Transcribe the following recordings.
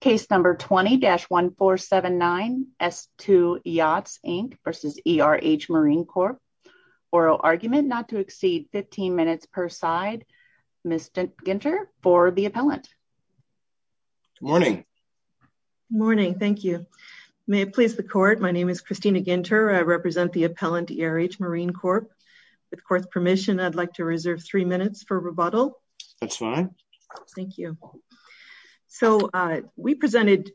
Case number 20-1479 S2 Yachts Inc v. ERH Marine Corp. Oral argument not to exceed 15 minutes per side. Ms. Ginter for the appellant. Morning. Morning. Thank you. May it please the court, my name is Christina Ginter. I represent the appellant ERH Marine Corp. With court's permission, I'd like to reserve three minutes for rebuttal. That's fine. Thank you. So, we presented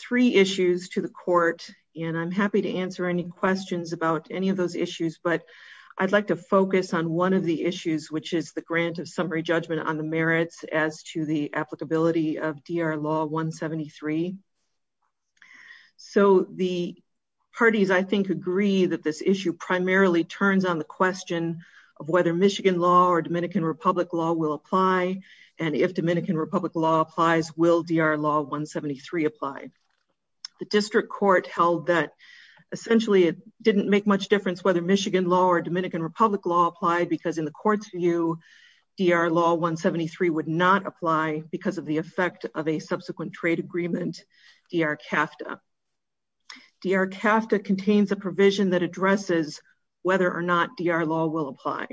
three issues to the court. And I'm happy to answer any questions about any of those issues. But I'd like to focus on one of the issues, which is the grant of summary judgment on the merits as to the applicability of DR Law 173. So the parties, I think, agree that this issue primarily turns on the question of whether Michigan law or Dominican Republic law will apply. And if Dominican Republic law applies, will DR Law 173 apply? The district court held that, essentially, it didn't make much difference whether Michigan law or Dominican Republic law applied. Because in the court's view, DR Law 173 would not apply because of the effect of a subsequent trade agreement, DR CAFTA. DR CAFTA contains a provision that addresses whether or not DR Law will apply.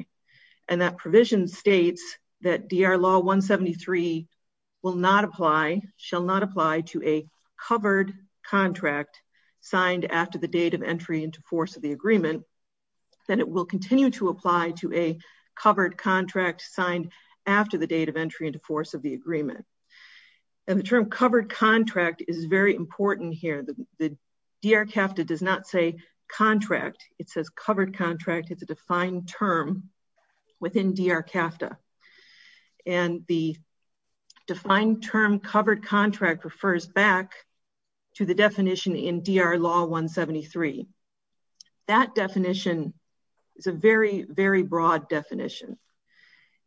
And that provision states that DR Law 173 will not apply, shall not apply to a covered contract signed after the date of entry into force of the agreement. Then it will continue to apply to a covered contract signed after the date of entry into force of the agreement. And the term covered contract is very important here. The DR CAFTA does not say contract. It says covered contract. It's a defined term within DR CAFTA. And the defined term covered contract refers back to the definition in DR Law 173. That definition is a very, very broad definition.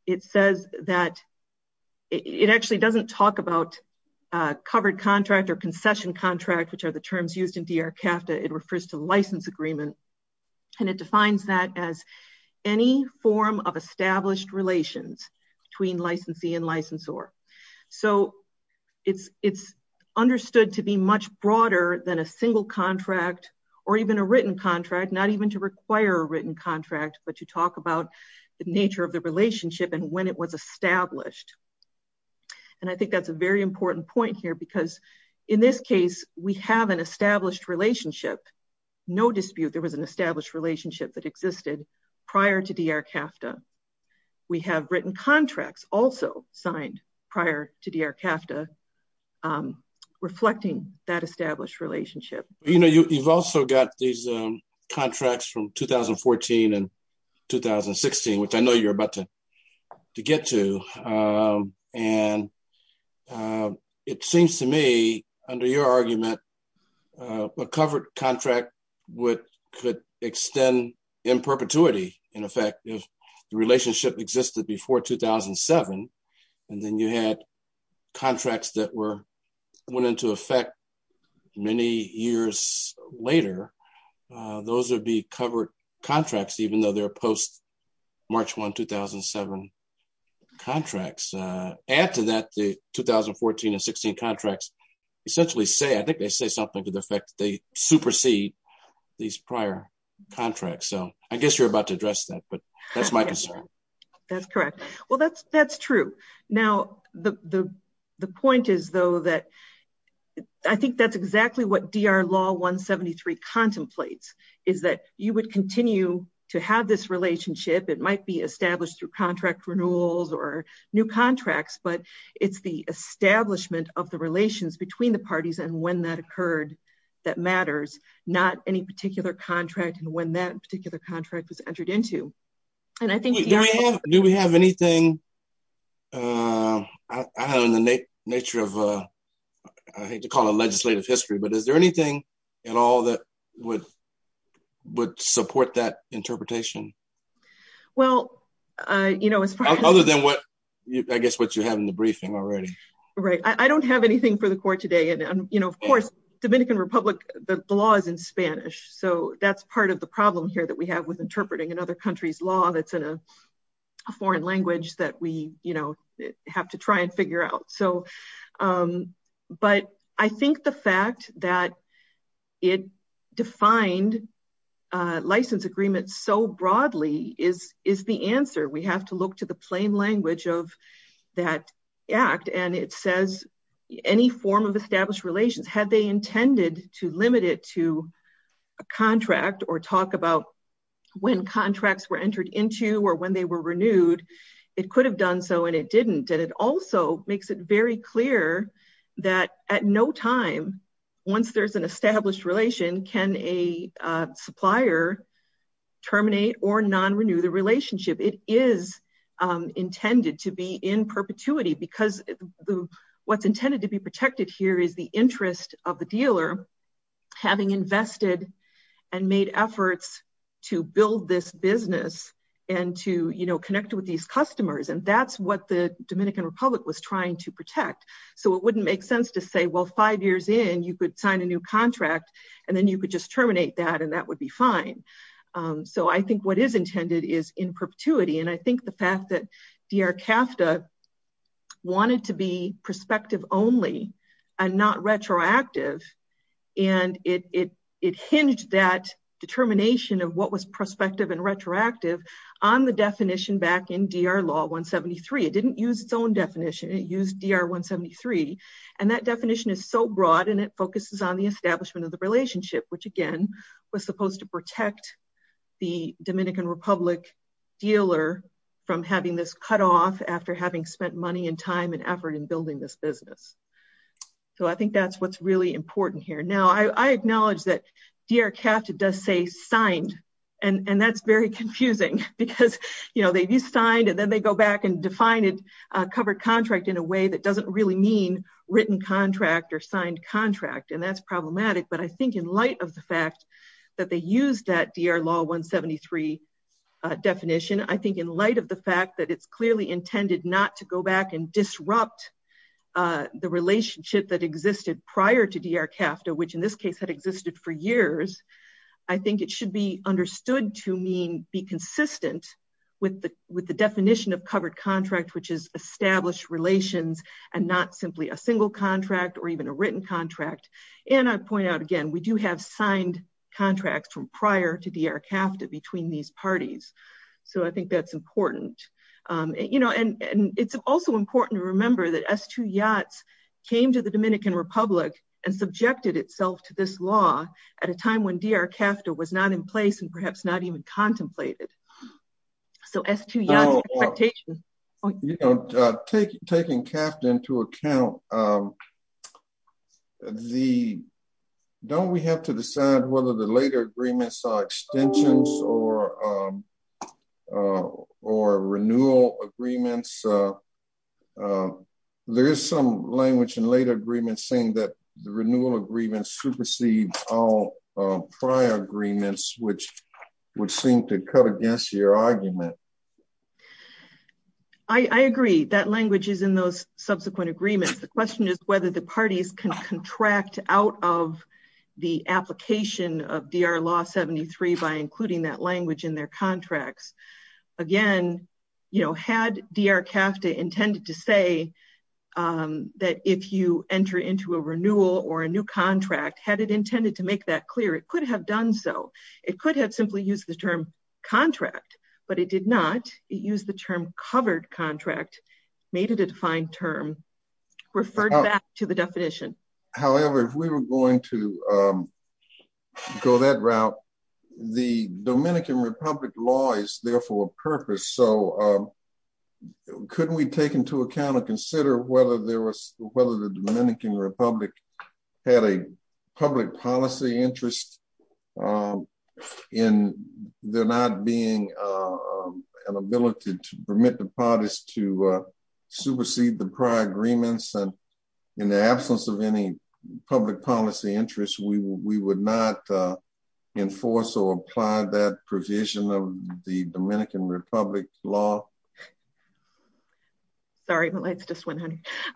It says that it actually doesn't talk about covered contract or concession contract, which are the terms used in DR CAFTA. It refers to license agreement. And it defines that as any form of established relations between licensee and licensor. So it's understood to be much broader than a single contract or even a written contract, not even to require a written contract, but to talk about the nature of the relationship and when it was established. And I think that's a very important point here because in this case, we have an established relationship. No dispute. There was an established relationship that existed prior to DR CAFTA. We have written contracts also signed prior to DR CAFTA reflecting that established relationship. You know, you've also got these contracts from 2014 and 2016, which I know you're about to get to. And it seems to me, under your argument, that a covered contract could extend in perpetuity, in effect, if the relationship existed before 2007. And then you had contracts that went into effect many years later. Those would be covered contracts, even though they're post-March 1, 2007 contracts. Add to that the 2014 and 2016 contracts essentially say, I think they say something to the effect that they supersede these prior contracts. So I guess you're about to address that, but that's my concern. That's correct. Well, that's true. Now, the point is, though, that I think that's exactly what DR Law 173 contemplates, is that you would continue to have this relationship. It might be established through contract renewals or new contracts. But it's the establishment of the relations between the parties and when that occurred that matters, not any particular contract and when that particular contract was entered into. And I think DR Law- Do we have anything in the nature of, I hate to call it a legislative history, but is there anything at all that would support that interpretation? Well, as far as- Other than what, I guess, what you have in the briefing already. Right. I don't have anything for the court today. And of course, Dominican Republic, the law is in Spanish. So that's part of the problem here that we have with interpreting another country's law that's in a foreign language that we have to try and figure out. But I think the fact that it defined license agreements so broadly is the answer. We have to look to the plain language of that act. And it says, any form of established relations, had they intended to limit it to a contract or talk about when contracts were entered into or when they were renewed, it could have done so and it didn't. And it also makes it very clear that at no time, once there's an established relation, can a supplier terminate or non-renew the relationship? It is intended to be in perpetuity because what's intended to be protected here is the interest of the dealer having invested and made efforts to build this business and to connect with these customers. And that's what the Dominican Republic was trying to protect. So it wouldn't make sense to say, well, five years in, you could sign a new contract and then you could just terminate that and that would be fine. So I think what is intended is in perpetuity. And I think the fact that DR CAFTA wanted to be prospective only and not retroactive, and it hinged that determination of what was prospective and retroactive on the definition back in DR Law 173. It didn't use its own definition. It used DR 173. And that definition is so broad and it focuses on the establishment of the relationship, which again, was supposed to protect the Dominican Republic dealer from having this cut off after having spent money and time and effort in building this business. So I think that's what's really important here. Now, I acknowledge that DR CAFTA does say signed and that's very confusing because they do signed and then they go back and define it covered contract in a way that doesn't really mean written contract or signed contract. And that's problematic. But I think in light of the fact that they used that DR Law 173 definition, I think in light of the fact that it's clearly intended not to go back and disrupt the relationship that existed prior to DR CAFTA, which in this case had existed for years, I think it should be understood to mean be consistent with the definition of covered contract, which is established relations and not simply a single contract or even a written contract. And I point out again, we do have signed contracts from prior to DR CAFTA between these parties. So I think that's important. And it's also important to remember that S2 Yachts came to the Dominican Republic and subjected itself to this law at a time when DR CAFTA was not in place and perhaps not even contemplated. So S2 Yachts expectation. Taking CAFTA into account, don't we have to decide whether the later agreements are extensions or renewal agreements? There is some language in later agreements saying that the renewal agreements supersede all prior agreements, which would seem to cut against your argument. I agree that language is in those subsequent agreements. The question is whether the parties can contract out of the application of DR Law 73 by including that language in their contracts. Again, had DR CAFTA intended to say that if you enter into a renewal or a new contract, had it intended to make that clear, it could have done so. It could have simply used the term contract, but it did not. It used the term covered contract, made it a defined term, referred back to the definition. However, if we were going to go that route, the Dominican Republic law is there for a purpose. So couldn't we take into account or consider whether the Dominican Republic had a public policy interest in there not being an ability to permit the parties to supersede the prior agreements and in the absence of any public policy interest, we would not enforce or apply that provision of the Dominican Republic law? Sorry, my light's just went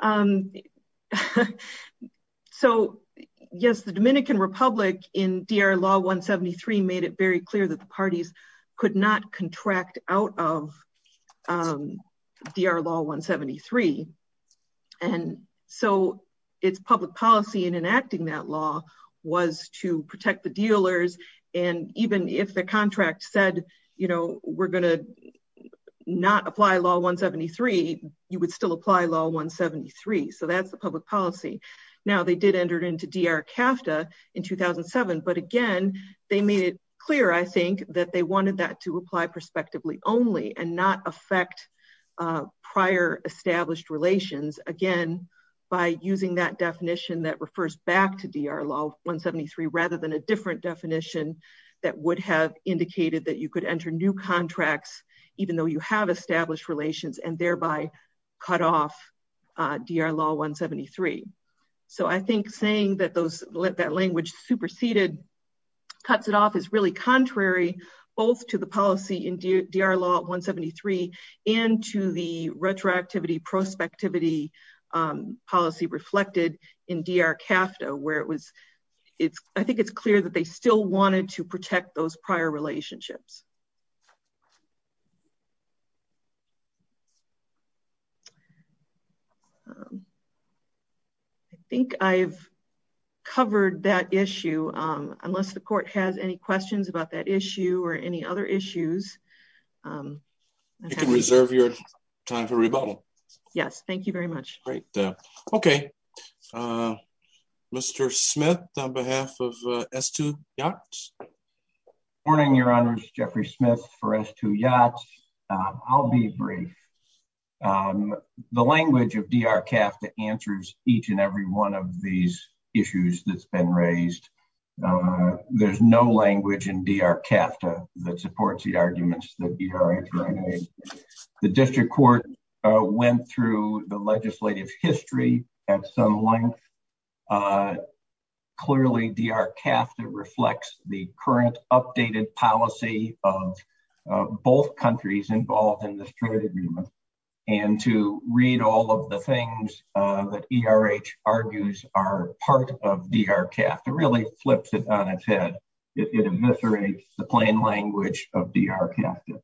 on. So yes, the Dominican Republic in DR Law 173 made it very clear that the parties could not contract out of DR Law 173. And so it's public policy in enacting that law was to protect the dealers. And even if the contract said, we're gonna not apply Law 173, you would still apply Law 173. So that's the public policy. Now they did enter into DR CAFTA in 2007, but again, they made it clear, I think, that they wanted that to apply prospectively only and not affect prior established relations. Again, by using that definition that refers back to DR Law 173, rather than a different definition that would have indicated that you could enter new contracts, even though you have established relations and thereby cut off DR Law 173. So I think saying that language superseded, cuts it off is really contrary, both to the policy in DR Law 173 and to the retroactivity prospectivity policy reflected in DR CAFTA, where I think it's clear that they still wanted to protect those prior relationships. I think I've covered that issue. Unless the court has any questions about that issue or any other issues. I can reserve your time for rebuttal. Yes, thank you very much. Great. Okay, Mr. Smith, on behalf of S2 Yachts. Morning, your honors, Jeffrey Smith for S2 Yachts. I'll be brief. The language of DR CAFTA answers each and every one of these issues that's been raised. There's no language in DR CAFTA that supports the arguments that ERH made. The district court went through the legislative history at some length. Clearly DR CAFTA reflects the current updated policy of both countries involved in this trade agreement. And to read all of the things that ERH argues are part of DR CAFTA really flips it on its head. It eviscerates the plain language of DR CAFTA.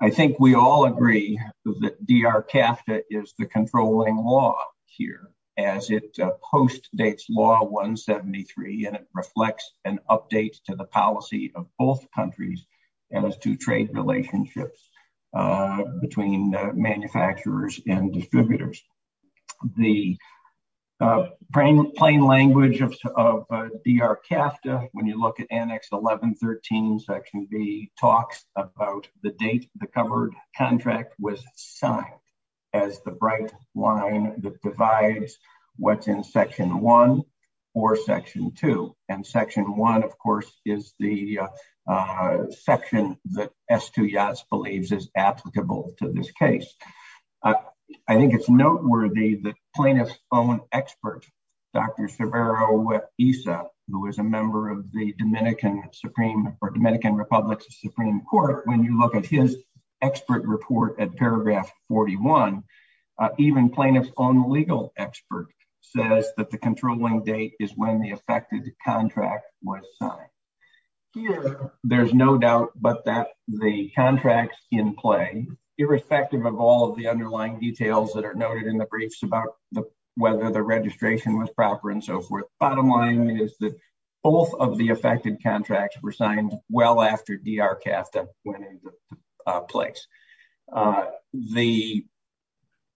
I think we all agree that DR CAFTA is the controlling law here, as it post dates law 173 and it reflects an update to the policy of both countries as to trade relationships between manufacturers and distributors. The plain language of DR CAFTA, when you look at annex 1113 section B talks about the date the covered contract was signed as the bright line that divides what's in section one or section two. And section one, of course, is the section that S2 Yaz believes is applicable to this case. I think it's noteworthy that plaintiff's own expert, Dr. Cervero Issa, who is a member of the Dominican Supreme or Dominican Republic Supreme Court, when you look at his expert report at paragraph 41, even plaintiff's own legal expert says that the controlling date is when the affected contract was signed. Here, there's no doubt, but that the contracts in play, irrespective of all of the underlying details that are noted in the briefs about whether the registration was proper and so forth. Bottom line is that both of the affected contracts were signed well after DR CAFTA went into place.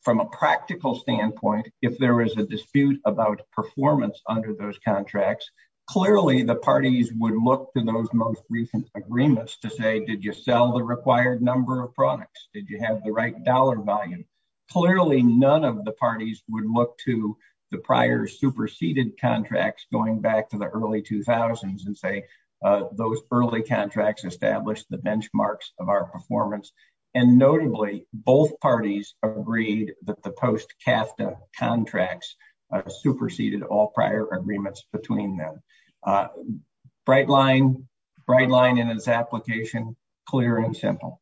From a practical standpoint, if there was a dispute about performance under those contracts, clearly the parties would look to those most recent agreements to say, did you sell the required number of products? Did you have the right dollar volume? Clearly none of the parties would look to the prior superseded contracts going back to the early 2000s and say those early contracts established the benchmarks of our performance. And notably, both parties agreed that the post-CAFTA contracts superseded all prior agreements between them. Bright line, bright line in its application, clear and simple.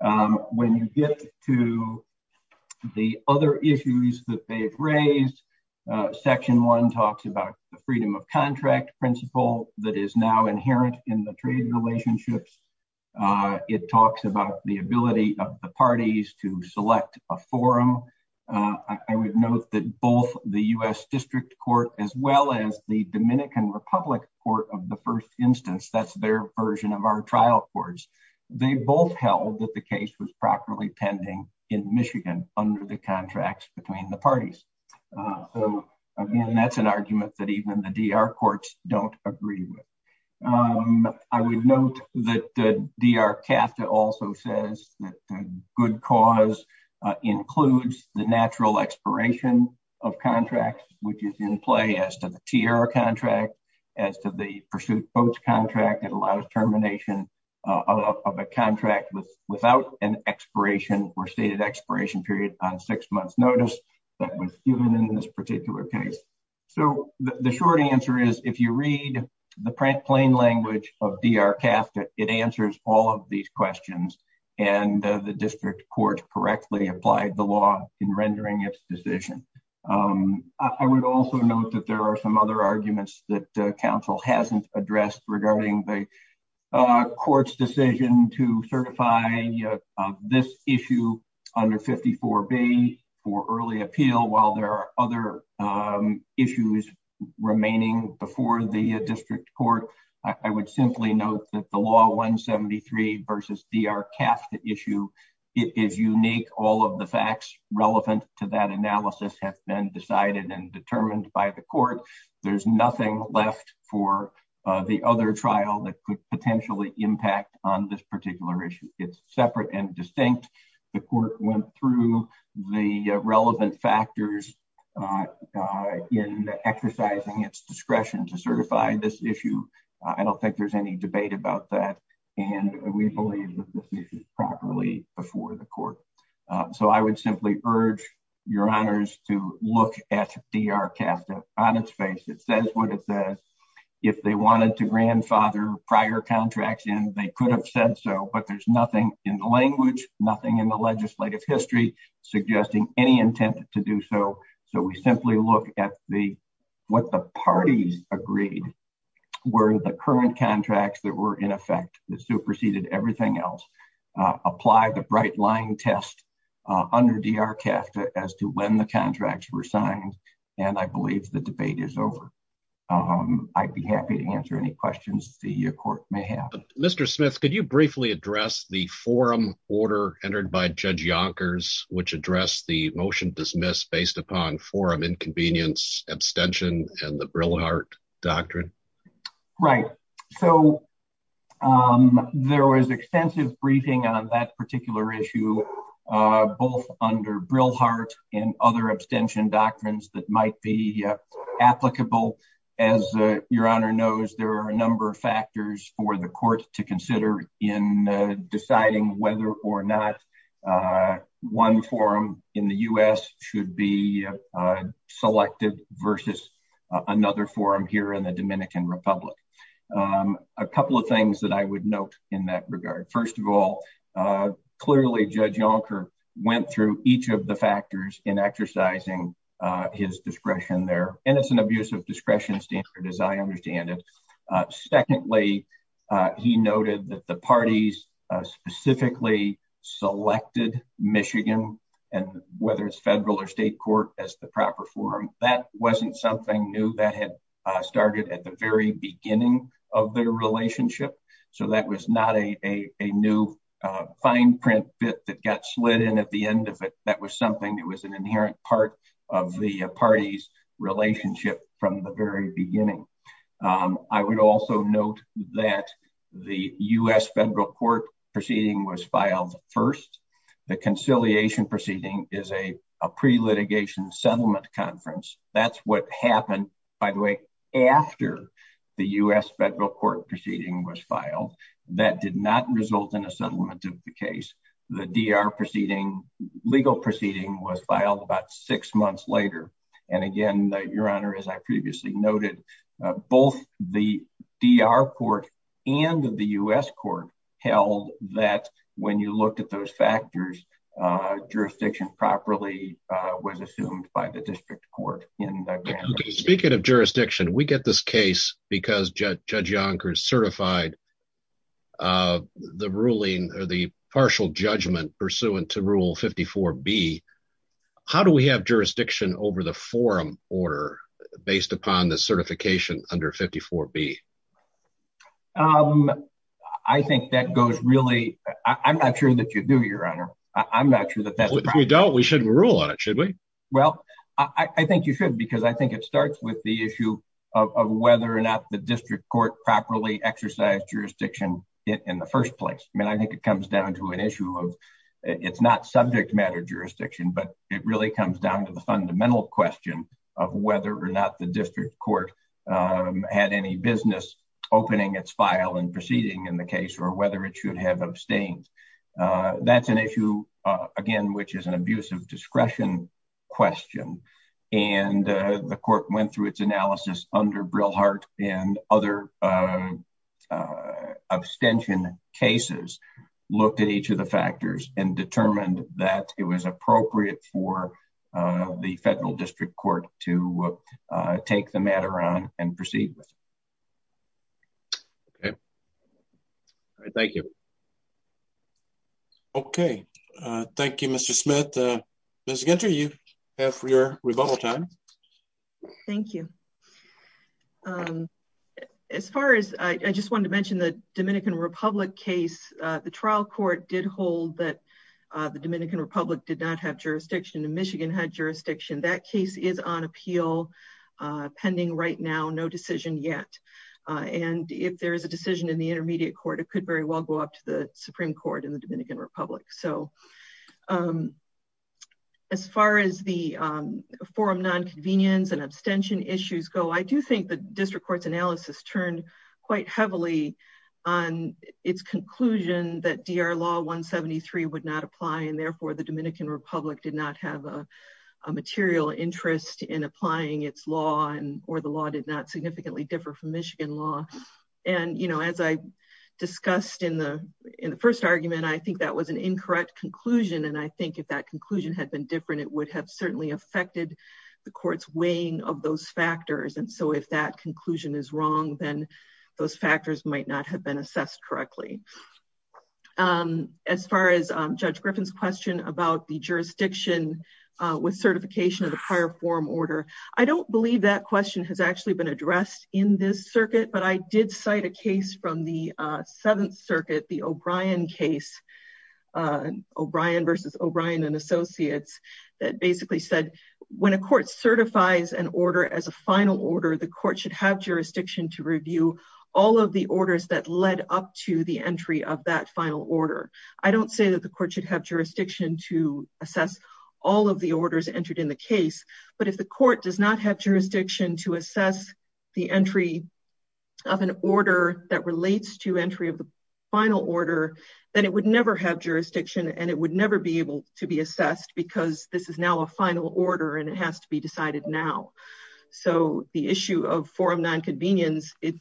When you get to the other issues that they've raised, section one talks about the freedom of contract principle that is now inherent in the trade relationships. It talks about the ability of the parties to select a forum. I would note that both the US District Court as well as the Dominican Republic Court of the first instance, that's their version of our trial courts, they both held that the case was properly pending in Michigan under the contracts between the parties. Again, that's an argument that even the DR courts don't agree with. I would note that the DR CAFTA also says that the good cause includes the natural expiration of contracts, which is in play as to the TR contract, as to the pursuit coach contract that allows termination of a contract without an expiration or stated expiration period on six months notice that was given in this particular case. So the short answer is, if you read the plain language of DR CAFTA, it answers all of these questions. And the district court correctly applied the law in rendering its decision. I would also note that there are some other arguments that council hasn't addressed regarding the court's decision to certify this issue under 54 B for early appeal, while there are other issues remaining before the district court. I would simply note that the law 173 versus DR CAFTA issue, it is unique. All of the facts relevant to that analysis have been decided and determined by the court. There's nothing left for the other trial that could potentially impact on this particular issue. It's separate and distinct. The court went through the relevant factors in exercising its discretion to certify this issue. I don't think there's any debate about that. And we believe that this issue is properly before the court. So I would simply urge your honors to look at DR CAFTA on its face. It says what it says. If they wanted to grandfather prior contracts in, they could have said so, but there's nothing in the language, nothing in the legislative history suggesting any intent to do so. So we simply look at what the parties agreed were the current contracts that were in effect that superseded everything else. Apply the bright line test under DR CAFTA as to when the contracts were signed. And I believe the debate is over. I'd be happy to answer any questions the court may have. Mr. Smith, could you briefly address the forum order entered by Judge Yonkers, which addressed the motion dismissed based upon forum inconvenience, abstention and the Brillhart Doctrine? Right. So there was extensive briefing on that particular issue, both under Brillhart and other abstention doctrines that might be applicable. As your honor knows, there are a number of factors for the court to consider in deciding whether or not one forum in the U.S. should be selected versus another forum here in the Dominican Republic. A couple of things that I would note in that regard. First of all, clearly Judge Yonker went through each of the factors in exercising his discretion there. And it's an abusive discretion standard as I understand it. Secondly, he noted that the parties specifically selected Michigan and whether it's federal or state court as the proper forum. That wasn't something new that had started at the very beginning of their relationship. So that was not a new fine print bit that got slid in at the end of it. That was something that was an inherent part of the party's relationship from the very beginning. I would also note that the U.S. federal court proceeding was filed first. The conciliation proceeding is a pre-litigation settlement conference. That's what happened, by the way, after the U.S. federal court proceeding was filed. That did not result in a settlement of the case. The DR proceeding, legal proceeding was filed about six months later. And again, your honor, as I previously noted, both the DR court and the U.S. court held that when you looked at those factors, jurisdiction properly was assumed by the district court in the grand jury. Speaking of jurisdiction, we get this case because Judge Yonkers certified the ruling or the partial judgment pursuant to Rule 54B. How do we have jurisdiction over the forum order based upon the certification under 54B? I think that goes really, I'm not sure that you do, your honor. I'm not sure that that's- If we don't, we shouldn't rule on it, should we? Well, I think you should, because I think it starts with the issue of whether or not the district court properly exercised jurisdiction in the first place. I mean, I think it comes down to an issue of, it's not subject matter jurisdiction, but it really comes down to the fundamental question of whether or not the district court had any business opening its file and proceeding in the case or whether it should have abstained. That's an issue, again, which is an abuse of discretion question. And the court went through its analysis under Brillhart and other abstention cases, looked at each of the factors and determined that it was appropriate for the federal district court to take the matter on and proceed with it. Okay. Thank you. Okay. Thank you, Mr. Smith. Ms. Ginter, you have your rebuttal time. Thank you. As far as, I just wanted to mention the Dominican Republic case, the trial court did hold that the Dominican Republic did not have jurisdiction and Michigan had jurisdiction. That case is on appeal pending right now, no decision yet. And if there is a decision in the intermediate court, it could very well go up to the Supreme Court in the Dominican Republic. So as far as the forum non-convenience and abstention issues go, I do think the district court's analysis turned quite heavily on its conclusion that DR Law 173 would not apply and therefore the Dominican Republic did not have a material interest in applying its law or the law did not significantly differ from Michigan law. And as I discussed in the first argument, I think that was an incorrect conclusion. And I think if that conclusion had been different, it would have certainly affected the court's weighing of those factors. And so if that conclusion is wrong, then those factors might not have been assessed correctly. As far as Judge Griffin's question about the jurisdiction with certification of the prior forum order, I don't believe that question has actually been addressed in this circuit, but I did cite a case from the Seventh Circuit, the O'Brien case, O'Brien versus O'Brien and Associates, that basically said when a court certifies an order as a final order, the court should have jurisdiction to review all of the orders that led up to the entry of that final order. I don't say that the court should have jurisdiction to assess all of the orders entered in the case, but if the court does not have jurisdiction to assess the entry of an order that relates to entry of the final order, then it would never have jurisdiction and it would never be able to be assessed because this is now a final order and it has to be decided now. So the issue of forum nonconvenience, it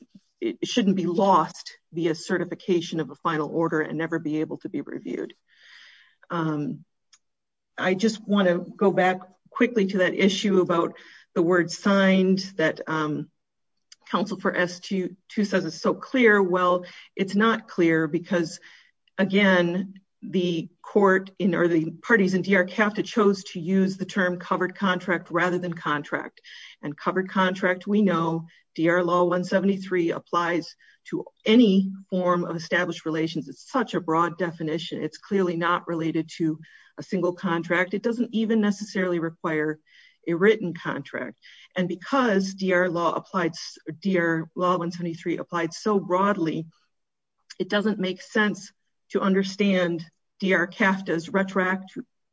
shouldn't be lost via certification of a final order and never be able to be reviewed. I just wanna go back quickly to that issue about the word signed that counsel for S2 says it's so clear. Well, it's not clear because again, the court or the parties in DR CAFTA chose to use the term covered contract rather than contract and covered contract. We know DR Law 173 applies to any form of established relations. It's such a broad definition. It's clearly not related to a single contract. It doesn't even necessarily require a written contract. And because DR Law 173 applied so broadly, it doesn't make sense to understand DR CAFTA's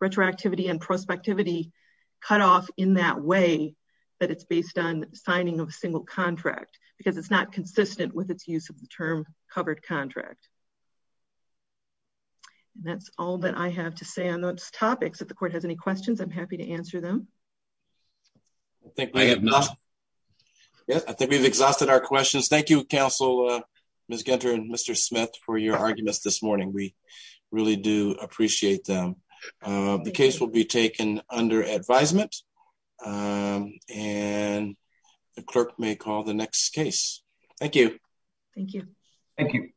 retroactivity and prospectivity cut off in that way. That it's based on signing of a single contract because it's not consistent with its use of the term covered contract. And that's all that I have to say on those topics. If the court has any questions, I'm happy to answer them. I think we have enough. Yeah, I think we've exhausted our questions. Thank you, counsel, Ms. Gunter and Mr. Smith for your arguments this morning. We really do appreciate them. The case will be taken under advisement and the clerk may call the next case. Thank you. Thank you. Thank you.